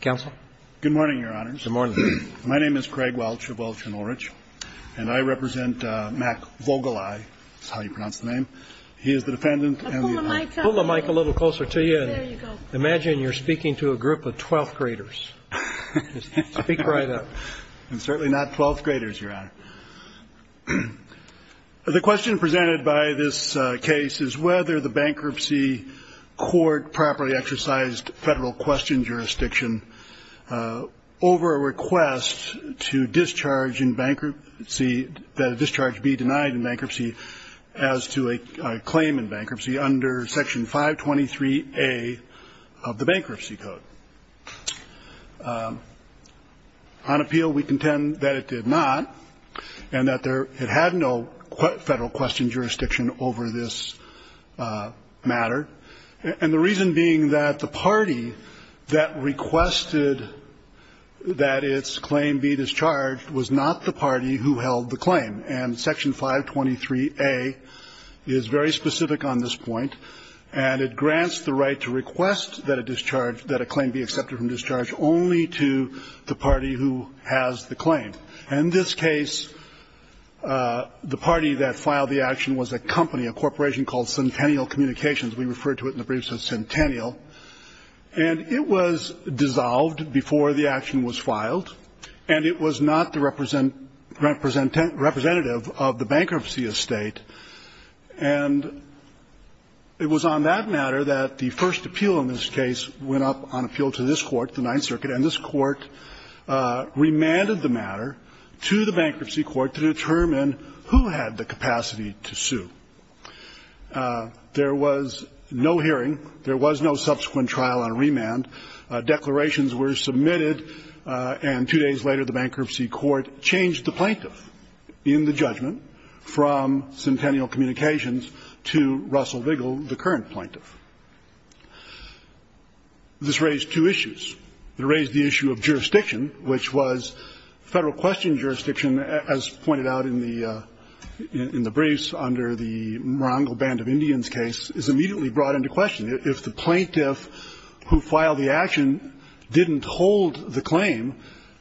Good morning, Your Honor. Good morning. My name is Craig Welch of Welch & Ulrich, and I represent Mack Vogelei. That's how you pronounce the name. He is the defendant. Pull the mic a little closer to you. Imagine you're speaking to a group of 12th graders. Speak right up. I'm certainly not 12th graders, Your Honor. The question presented by this case is whether the bankruptcy court properly exercised federal question jurisdiction over a request to discharge in bankruptcy that a discharge be denied in bankruptcy as to a claim in bankruptcy under Section 523A of the Bankruptcy Code. On appeal, we contend that it did not and that it had no federal question jurisdiction over this matter. And the reason being that the party that requested that its claim be discharged was not the party who held the claim. And Section 523A is very specific on this point, and it grants the right to request that a discharge – that a claim be accepted from discharge only to the party who has the claim. In this case, the party that filed the action was a company, a corporation called Centennial Communications. We referred to it in the briefs as Centennial. And it was dissolved before the action was filed, and it was not the representative of the bankruptcy estate. And it was on that matter that the first appeal in this case went up on appeal to this Court, the Ninth Circuit, and this Court remanded the matter to the Bankruptcy Court to determine who had the capacity to sue. There was no hearing. There was no subsequent trial on remand. Declarations were submitted, and two days later the Bankruptcy Court changed the plaintiff in the judgment from Centennial Communications to Russell Vigil, the current plaintiff. This raised two issues. It raised the issue of jurisdiction, which was Federal question jurisdiction, as pointed out in the briefs under the Morongo Band of Indians case, is immediately brought into question. If the plaintiff who filed the action didn't hold the claim,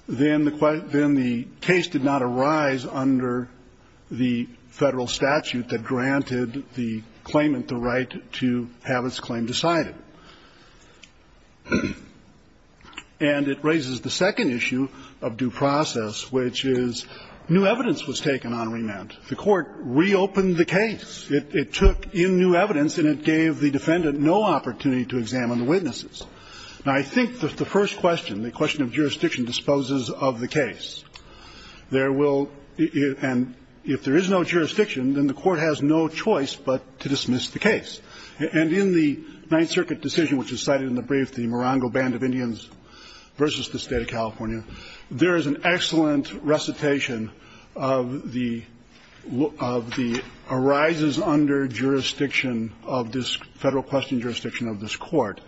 then the case did not arise under the Federal statute that granted the claimant the right to have its claim decided. And it raises the second issue of due process, which is new evidence was taken on remand. The Court reopened the case. It took in new evidence, and it gave the defendant no opportunity to examine the witnesses. Now, I think that the first question, the question of jurisdiction, disposes of the case. There will be – and if there is no jurisdiction, then the Court has no choice but to dismiss the case. And in the Ninth Circuit decision, which is cited in the brief, the Morongo Band of Indians v. the State of California, there is an excellent recitation of the – of the arises under jurisdiction of this Federal question jurisdiction of this Court.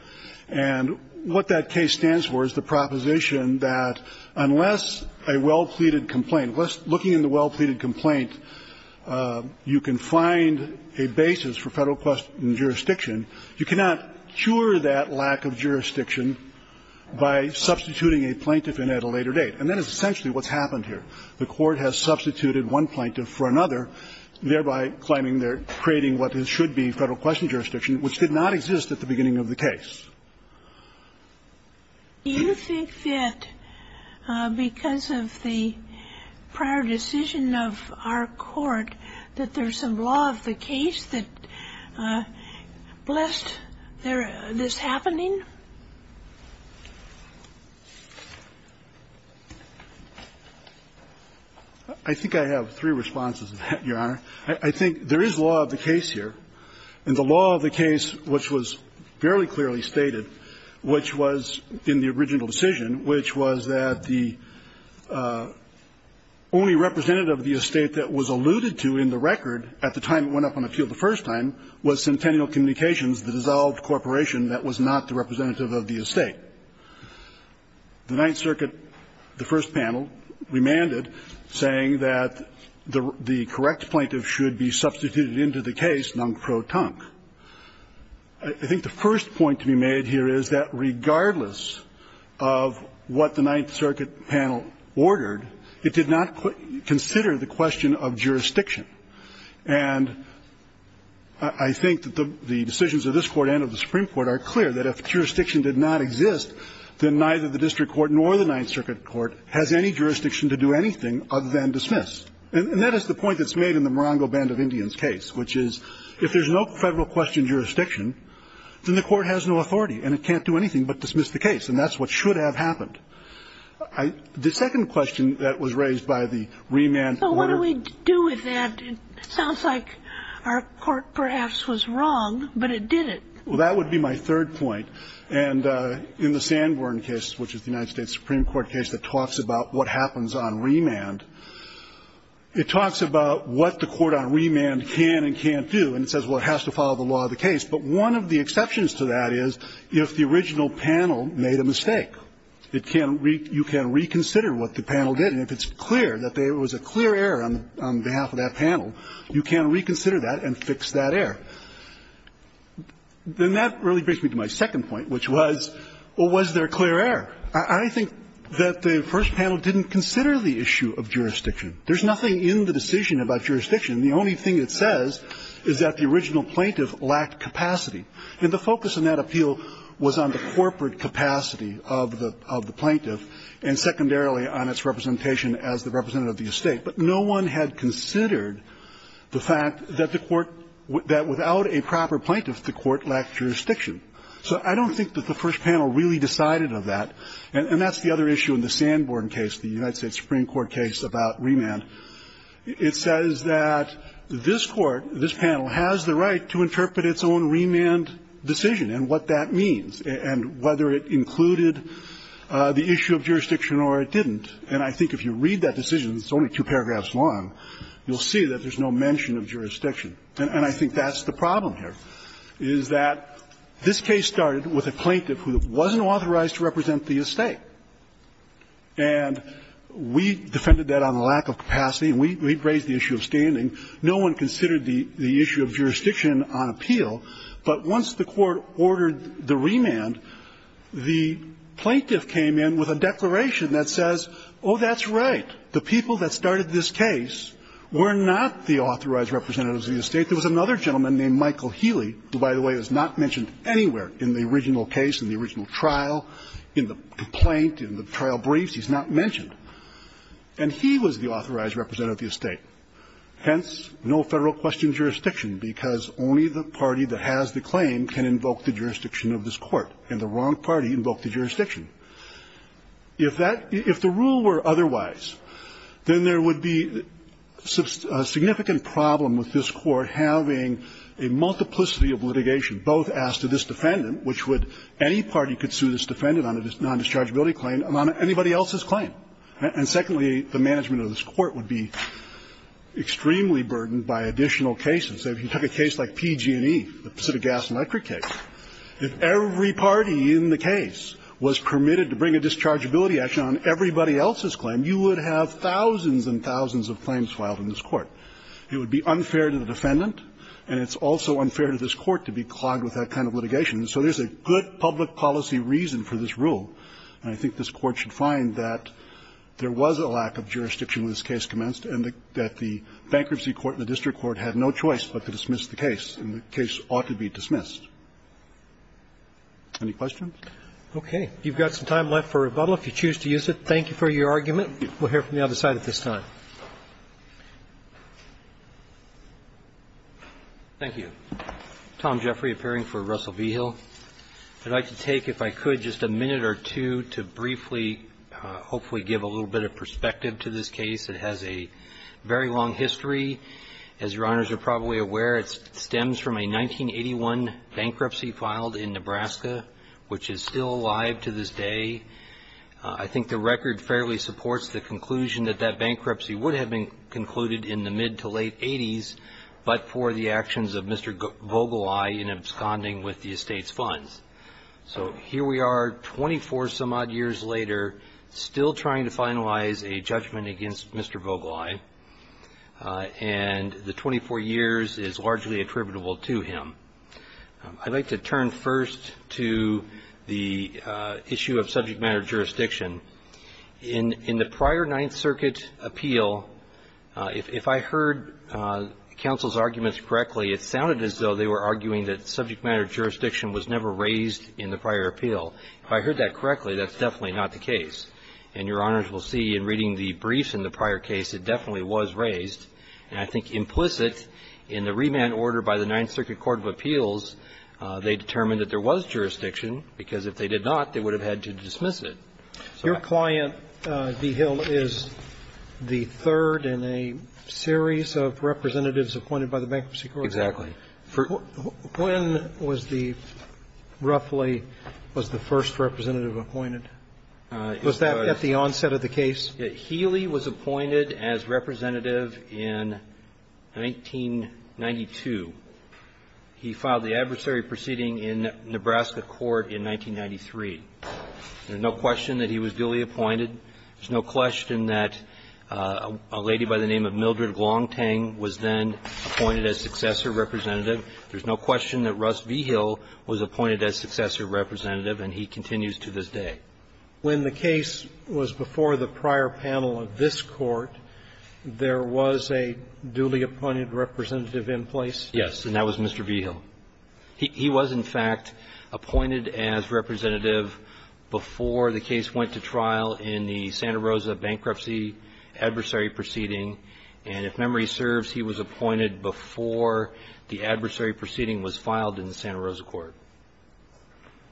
And what that case stands for is the proposition that unless a well-pleaded complaint, you can find a basis for Federal question jurisdiction, you cannot cure that lack of jurisdiction by substituting a plaintiff in at a later date. And that is essentially what's happened here. The Court has substituted one plaintiff for another, thereby claiming they're creating what should be Federal question jurisdiction, which did not exist at the beginning of the case. Do you think that because of the prior decision of our Court that there's some law of the case that blessed this happening? I think I have three responses to that, Your Honor. I think there is law of the case here. And the law of the case, which was fairly clearly stated, which was in the original decision, which was that the only representative of the estate that was alluded to in the record at the time it went up on the field the first time was Centennial Communications, the dissolved corporation that was not the representative of the estate. The Ninth Circuit, the first panel, remanded saying that the correct plaintiff should be substituted into the case, nunc protunc. I think the first point to be made here is that regardless of what the Ninth Circuit panel ordered, it did not consider the question of jurisdiction. And I think that the decisions of this Court and of the Supreme Court are clear that if jurisdiction did not exist, then neither the district court nor the Ninth Circuit would have been dismissed. And that is the point that's made in the Morongo Band of Indians case, which is if there's no federal question of jurisdiction, then the Court has no authority and it can't do anything but dismiss the case. And that's what should have happened. The second question that was raised by the remand order. But what do we do with that? It sounds like our Court perhaps was wrong, but it didn't. Well, that would be my third point. And in the Sanborn case, which is the United States Supreme Court case that talks about what happens on remand, it talks about what the court on remand can and can't do, and it says, well, it has to follow the law of the case. But one of the exceptions to that is if the original panel made a mistake, you can reconsider what the panel did. And if it's clear that there was a mistake, then that really brings me to my second point, which was, well, was there clear error? I think that the first panel didn't consider the issue of jurisdiction. There's nothing in the decision about jurisdiction. The only thing it says is that the original plaintiff lacked capacity. And the focus on that appeal was on the corporate capacity of the plaintiff and, secondarily, on its representation as the representative of the estate. But no one had considered the fact that the court – that without a proper plaintiff, the court lacked jurisdiction. So I don't think that the first panel really decided of that. And that's the other issue in the Sanborn case, the United States Supreme Court case about remand. It says that this Court, this panel, has the right to interpret its own remand decision and what that means, and whether it included the issue of jurisdiction or it didn't. And I think if you read that decision, it's only two paragraphs long, you'll see that there's no mention of jurisdiction. And I think that's the problem here, is that this case started with a plaintiff who wasn't authorized to represent the estate. And we defended that on the lack of capacity, and we raised the issue of standing. No one considered the issue of jurisdiction on appeal. But once the court ordered the remand, the plaintiff came in with a declaration that says, oh, that's right. The people that started this case were not the authorized representatives of the estate. There was another gentleman named Michael Healy, who, by the way, is not mentioned anywhere in the original case, in the original trial, in the complaint, in the trial briefs. He's not mentioned. And he was the authorized representative of the estate. Hence, no Federal question of jurisdiction, because only the party that has the claim can invoke the jurisdiction of this Court, and the wrong party invoked the jurisdiction. If that – if the rule were otherwise, then there would be a significant problem with this Court having a multiplicity of litigation, both as to this defendant, which would – any party could sue this defendant on a non-dischargeability claim, on anybody else's claim. And secondly, the management of this Court would be extremely burdened by additional cases. So if you took a case like PG&E, the Pacific Gas and Electric case, if every party in the case was permitted to bring a dischargeability action on everybody else's claim, you would have thousands and thousands of claims filed in this Court. It would be unfair to the defendant, and it's also unfair to this Court to be clogged with that kind of litigation. And so there's a good public policy reason for this rule. And I think this Court should find that there was a lack of jurisdiction when this case commenced, and that the bankruptcy court and the district court had no choice but to dismiss the case, and the case ought to be dismissed. Any questions? Roberts. Okay. You've got some time left for rebuttal. If you choose to use it, thank you for your argument. We'll hear from the other side at this time. Jeffrey. Thank you. Tom Jeffrey, appearing for Russell Vigil. I'd like to take, if I could, just a minute or two to briefly hopefully give a little bit of perspective to this case. It has a very long history. As Your Honors are probably aware, it stems from a 1981 bankruptcy filed in Nebraska, which is still alive to this day. I think the record fairly supports the conclusion that that bankruptcy would have been concluded in the mid-to-late 80s, but for the actions of Mr. Vogeli in absconding with the estate's funds. So here we are, 24-some-odd years later, still trying to finalize a judgment against Mr. Vogeli, and the 24 years is largely attributable to him. I'd like to turn first to the issue of subject matter jurisdiction. In the prior Ninth Circuit appeal, if I heard counsel's arguments correctly, it sounded as though they were arguing that subject matter jurisdiction was never raised in the prior appeal. If I heard that correctly, that's definitely not the case. And Your Honors will see, in reading the briefs in the prior case, it definitely was raised. And I think implicit in the remand order by the Ninth Circuit Court of Appeals, they determined that there was jurisdiction, because if they did not, they would have had to dismiss it. Your client, V. Hill, is the third in a series of representatives appointed by the Bankruptcy Court. Exactly. When was the roughly was the first representative appointed? Was that at the onset of the case? Healy was appointed as representative in 1992. He filed the adversary proceeding in Nebraska court in 1993. There's no question that he was duly appointed. There's no question that a lady by the name of Mildred Glontang was then appointed as successor representative. There's no question that Russ V. Hill was appointed as successor representative, and he continues to this day. When the case was before the prior panel of this Court, there was a duly appointed representative in place? Yes. And that was Mr. V. Hill. He was, in fact, appointed as representative before the case went to trial in the Santa Rosa bankruptcy adversary proceeding. And if memory serves, he was appointed before the adversary proceeding was filed in the Santa Rosa court.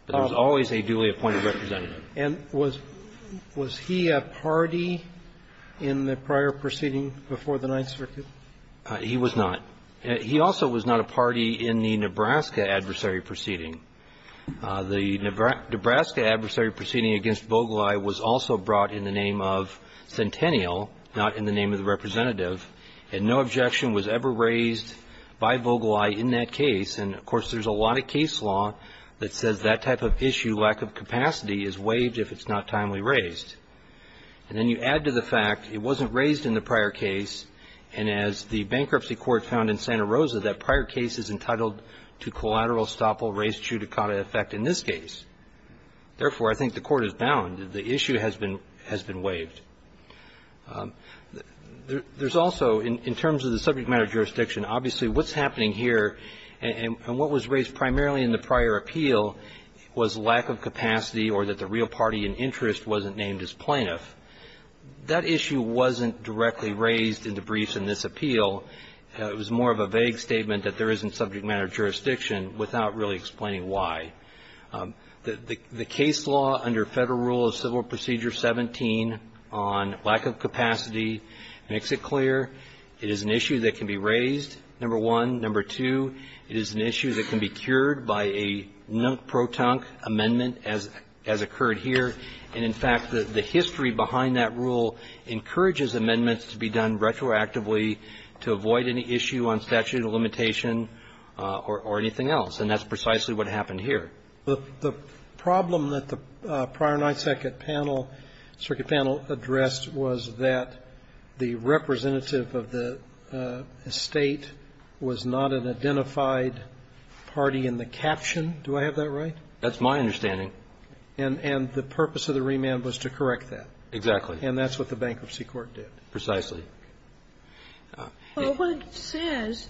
There was always a duly appointed representative. And was he a party in the prior proceeding before the Ninth Circuit? He was not. He also was not a party in the Nebraska adversary proceeding. The Nebraska adversary proceeding against Vogelei was also brought in the name of Centennial, not in the name of the representative. And no objection was ever raised by Vogelei in that case. And, of course, there's a lot of case law that says that type of issue, lack of capacity, is waived if it's not timely raised. And then you add to the fact it wasn't raised in the prior case, and as the bankruptcy court found in Santa Rosa, that prior case is entitled to collateral estoppel res judicata effect in this case. Therefore, I think the court is bound. The issue has been waived. There's also, in terms of the subject matter jurisdiction, obviously what's happening here and what was raised primarily in the prior appeal was lack of capacity or that the real party in interest wasn't named as plaintiff. That issue wasn't directly raised in the briefs in this appeal. It was more of a vague statement that there isn't subject matter jurisdiction without really explaining why. The case law under Federal Rule of Civil Procedure 17 on lack of capacity makes it clear it is an issue that can be raised, number one. Number two, it is an issue that can be cured by a non-proton amendment as occurred here. And, in fact, the history behind that rule encourages amendments to be done retroactively to avoid any issue on statute of limitation or anything else. And that's precisely what happened here. The problem that the prior and I second panel, circuit panel addressed was that the representative of the State was not an identified party in the caption. Do I have that right? That's my understanding. And the purpose of the remand was to correct that. Exactly. And that's what the bankruptcy court did. Precisely. Well, what it says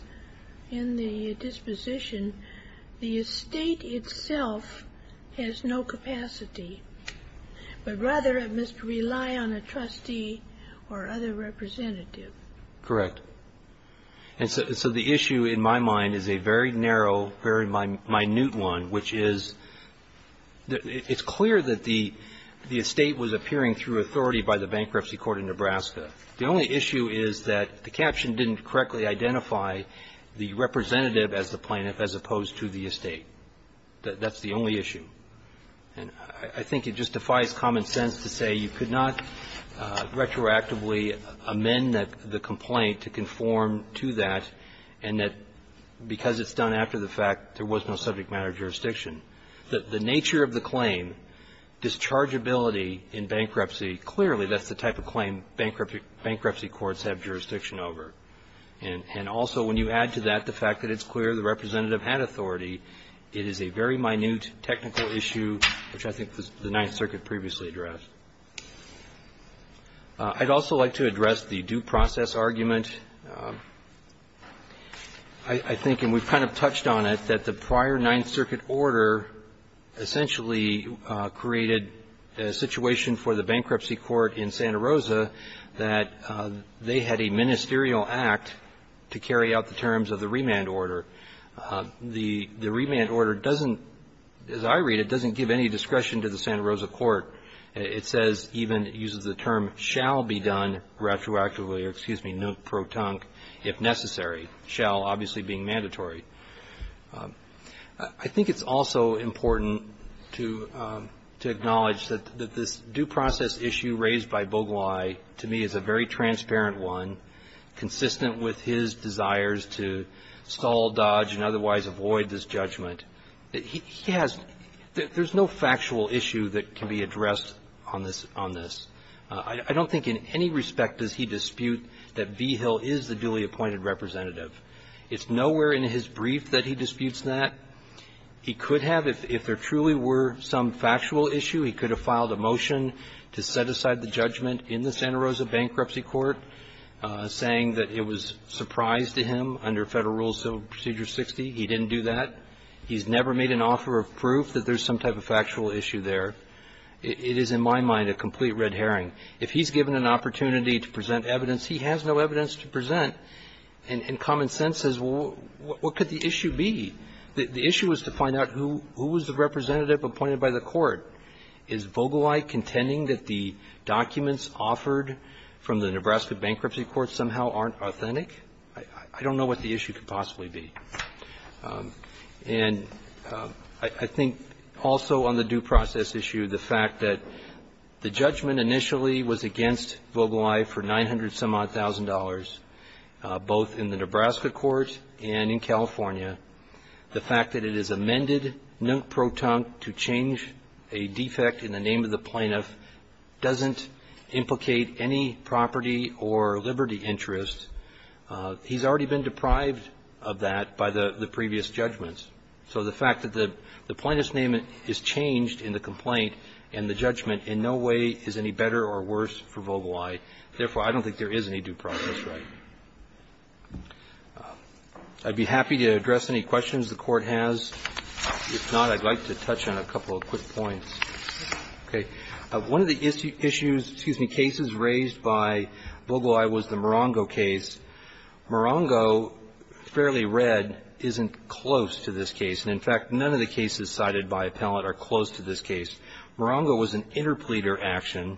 in the disposition, the State itself has no capacity, but rather it must rely on a trustee or other representative. Correct. And so the issue in my mind is a very narrow, very minute one, which is it's clear that the estate was appearing through authority by the bankruptcy court in Nebraska. The only issue is that the caption didn't correctly identify the representative as the plaintiff as opposed to the estate. That's the only issue. And I think it just defies common sense to say you could not retroactively amend the complaint to conform to that and that because it's done after the fact there was no subject matter jurisdiction. The nature of the claim, dischargeability in bankruptcy, clearly that's the type of claim bankruptcy courts have jurisdiction over. And also when you add to that the fact that it's clear the representative had authority, it is a very minute technical issue, which I think the Ninth Circuit previously addressed. I'd also like to address the due process argument. I think, and we've kind of touched on it, that the prior Ninth Circuit order essentially created a situation for the bankruptcy court in Santa Rosa that they had a ministerial act to carry out the terms of the remand order. The remand order doesn't, as I read it, doesn't give any discretion to the Santa Rosa. It says even, it uses the term, shall be done retroactively, or excuse me, non-protonque if necessary. Shall obviously being mandatory. I think it's also important to acknowledge that this due process issue raised by Bogolai to me is a very transparent one, consistent with his desires to stall, dodge, and otherwise avoid this judgment. He has no factual issue that can be addressed on this. I don't think in any respect does he dispute that Vigil is the duly appointed representative. It's nowhere in his brief that he disputes that. He could have if there truly were some factual issue. He could have filed a motion to set aside the judgment in the Santa Rosa bankruptcy court saying that it was surprise to him under Federal Rules Procedure 60. He didn't do that. He's never made an offer of proof that there's some type of factual issue there. It is, in my mind, a complete red herring. If he's given an opportunity to present evidence, he has no evidence to present and common sense says, well, what could the issue be? The issue is to find out who was the representative appointed by the court. Is Bogolai contending that the documents offered from the Nebraska bankruptcy court somehow aren't authentic? I don't know what the issue could possibly be. And I think also on the due process issue, the fact that the judgment initially was against Bogolai for $900,000-some-odd, both in the Nebraska court and in California. The fact that it is amended nunt pro tante to change a defect in the name of the plaintiff doesn't implicate any property or liberty interest. He's already been deprived of that by the previous judgments. So the fact that the plaintiff's name is changed in the complaint and the judgment in no way is any better or worse for Bogolai, therefore, I don't think there is any due process right. I'd be happy to address any questions the Court has. If not, I'd like to touch on a couple of quick points. Okay. One of the issues, excuse me, cases raised by Bogolai was the Morongo case. Morongo, fairly read, isn't close to this case. And in fact, none of the cases cited by appellate are close to this case. Morongo was an interpleader action.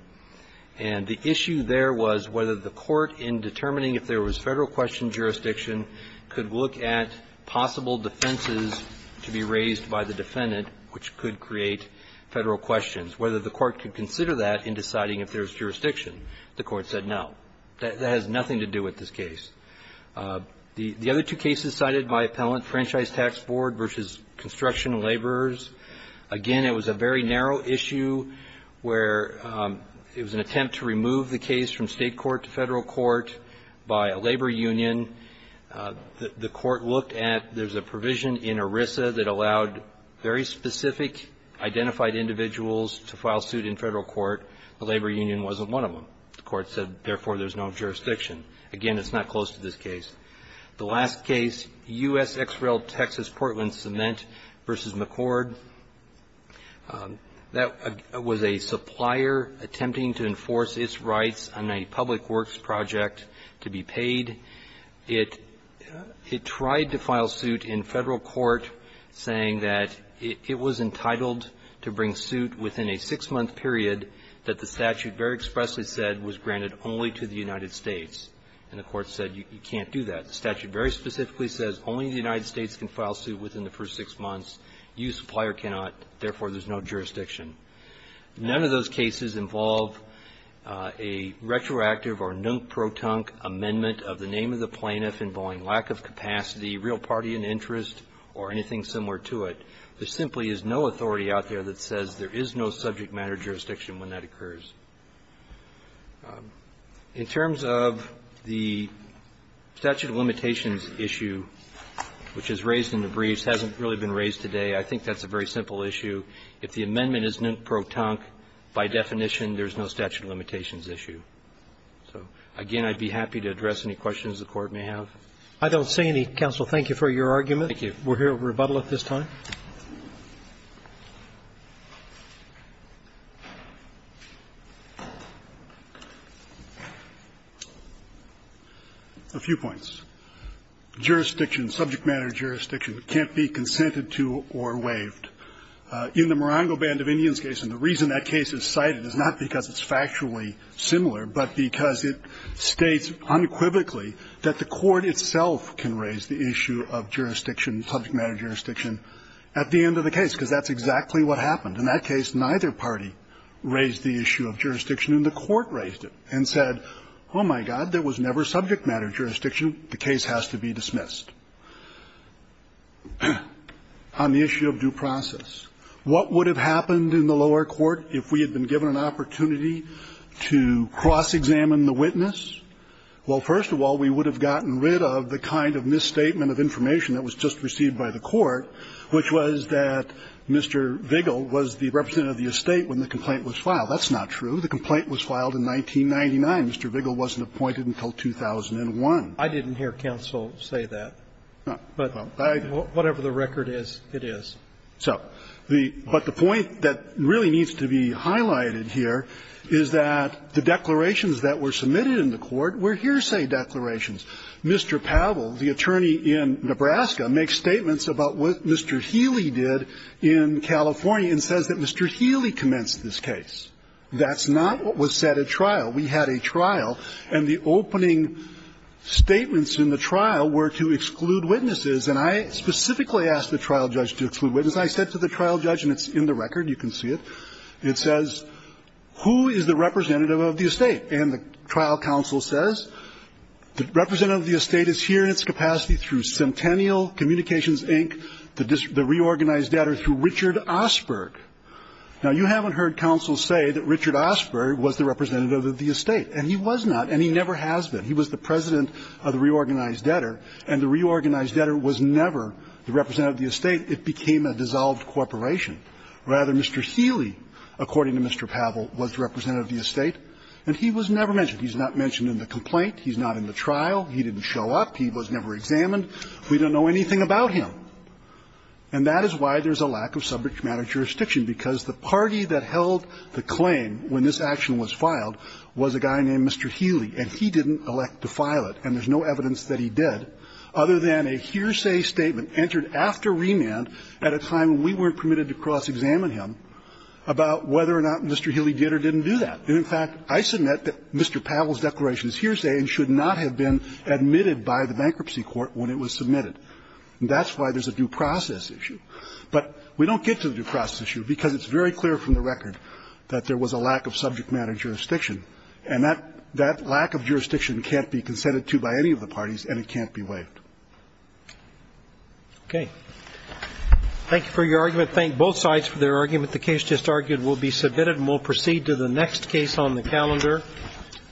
And the issue there was whether the court, in determining if there was Federal question jurisdiction, could look at possible defenses to be raised by the defendant, which could create Federal questions. Whether the court could consider that in deciding if there was jurisdiction. The Court said no. That has nothing to do with this case. The other two cases cited by appellant, Franchise Tax Board v. Construction Laborers, again, it was a very narrow issue where it was an attempt to remove the case from State court to Federal court by a labor union. The court looked at there's a provision in ERISA that allowed very specific identified individuals to file suit in Federal court. The labor union wasn't one of them. The court said, therefore, there's no jurisdiction. Again, it's not close to this case. The last case, U.S. XREL Texas Portland Cement v. McCord, that was a supplier attempting to enforce its rights on a public works project to be paid. It tried to file suit in Federal court saying that it was entitled to bring suit within a six-month period that the statute very expressly said was granted only to the United States. And the court said you can't do that. The statute very specifically says only the United States can file suit within the first six months. You, supplier, cannot. Therefore, there's no jurisdiction. None of those cases involve a retroactive or non-protunct amendment of the name of the plaintiff involving lack of capacity, real party and interest, or anything similar to it. There simply is no authority out there that says there is no subject matter jurisdiction when that occurs. In terms of the statute of limitations issue, which is raised in the briefs, hasn't really been raised today. I think that's a very simple issue. If the amendment is non-protunct, by definition, there's no statute of limitations issue. So, again, I'd be happy to address any questions the Court may have. Roberts. I don't see any. Counsel, thank you for your argument. Thank you. We'll hear a rebuttal at this time. A few points. Jurisdiction, subject matter jurisdiction can't be consented to or waived. In the Morongo Band of Indians case, and the reason that case is cited is not because it's factually similar, but because it states unequivocally that the Court itself can raise the issue of jurisdiction, subject matter jurisdiction, at the end of the case, because that's exactly what happened. In that case, neither party raised the issue of jurisdiction, and the Court raised it and said, oh, my God, there was never subject matter jurisdiction, the case has to be dismissed. On the issue of due process, what would have happened in the lower court if we had been given an opportunity to cross-examine the witness? Well, first of all, we would have gotten rid of the kind of misstatement of information that was just received by the Court, which was that Mr. Vigil was the representative of the estate when the complaint was filed. That's not true. The complaint was filed in 1999. Mr. Vigil wasn't appointed until 2001. I didn't hear counsel say that. But whatever the record is, it is. So the point that really needs to be highlighted here is that the declarations that were submitted in the Court were hearsay declarations. Mr. Pavel, the attorney in Nebraska, makes statements about what Mr. Healy did in California and says that Mr. Healy commenced this case. That's not what was set at trial. We had a trial. And the opening statements in the trial were to exclude witnesses. And I specifically asked the trial judge to exclude witnesses. I said to the trial judge, and it's in the record. You can see it. It says, who is the representative of the estate? And the trial counsel says the representative of the estate is here in its capacity through Centennial Communications, Inc., the reorganized data, or through Richard Osberg. Now, you haven't heard counsel say that Richard Osberg was the representative of the estate. And he was not, and he never has been. He was the president of the reorganized debtor, and the reorganized debtor was never the representative of the estate. It became a dissolved corporation. Rather, Mr. Healy, according to Mr. Pavel, was the representative of the estate, and he was never mentioned. He's not mentioned in the complaint. He's not in the trial. He didn't show up. He was never examined. We don't know anything about him. And that is why there's a lack of subject matter jurisdiction, because the party that held the claim when this action was filed was a guy named Mr. Healy, and he didn't elect to file it, and there's no evidence that he did, other than a hearsay statement entered after remand at a time when we weren't permitted to cross-examine him about whether or not Mr. Healy did or didn't do that. And, in fact, I submit that Mr. Pavel's declaration is hearsay and should not have been admitted by the bankruptcy court when it was submitted. And that's why there's a due process issue. But we don't get to the due process issue, because it's very clear from the record that there was a lack of subject matter jurisdiction. And that lack of jurisdiction can't be consented to by any of the parties, and it can't be waived. Roberts. Thank you for your argument. Thank both sides for their argument. The case just argued will be submitted, and we'll proceed to the next case on the calendar,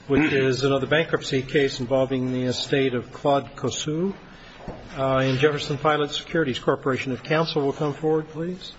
which is another bankruptcy case involving the estate of Claude Cossu. And Jefferson Pilot Securities Corporation of Counsel will come forward, please.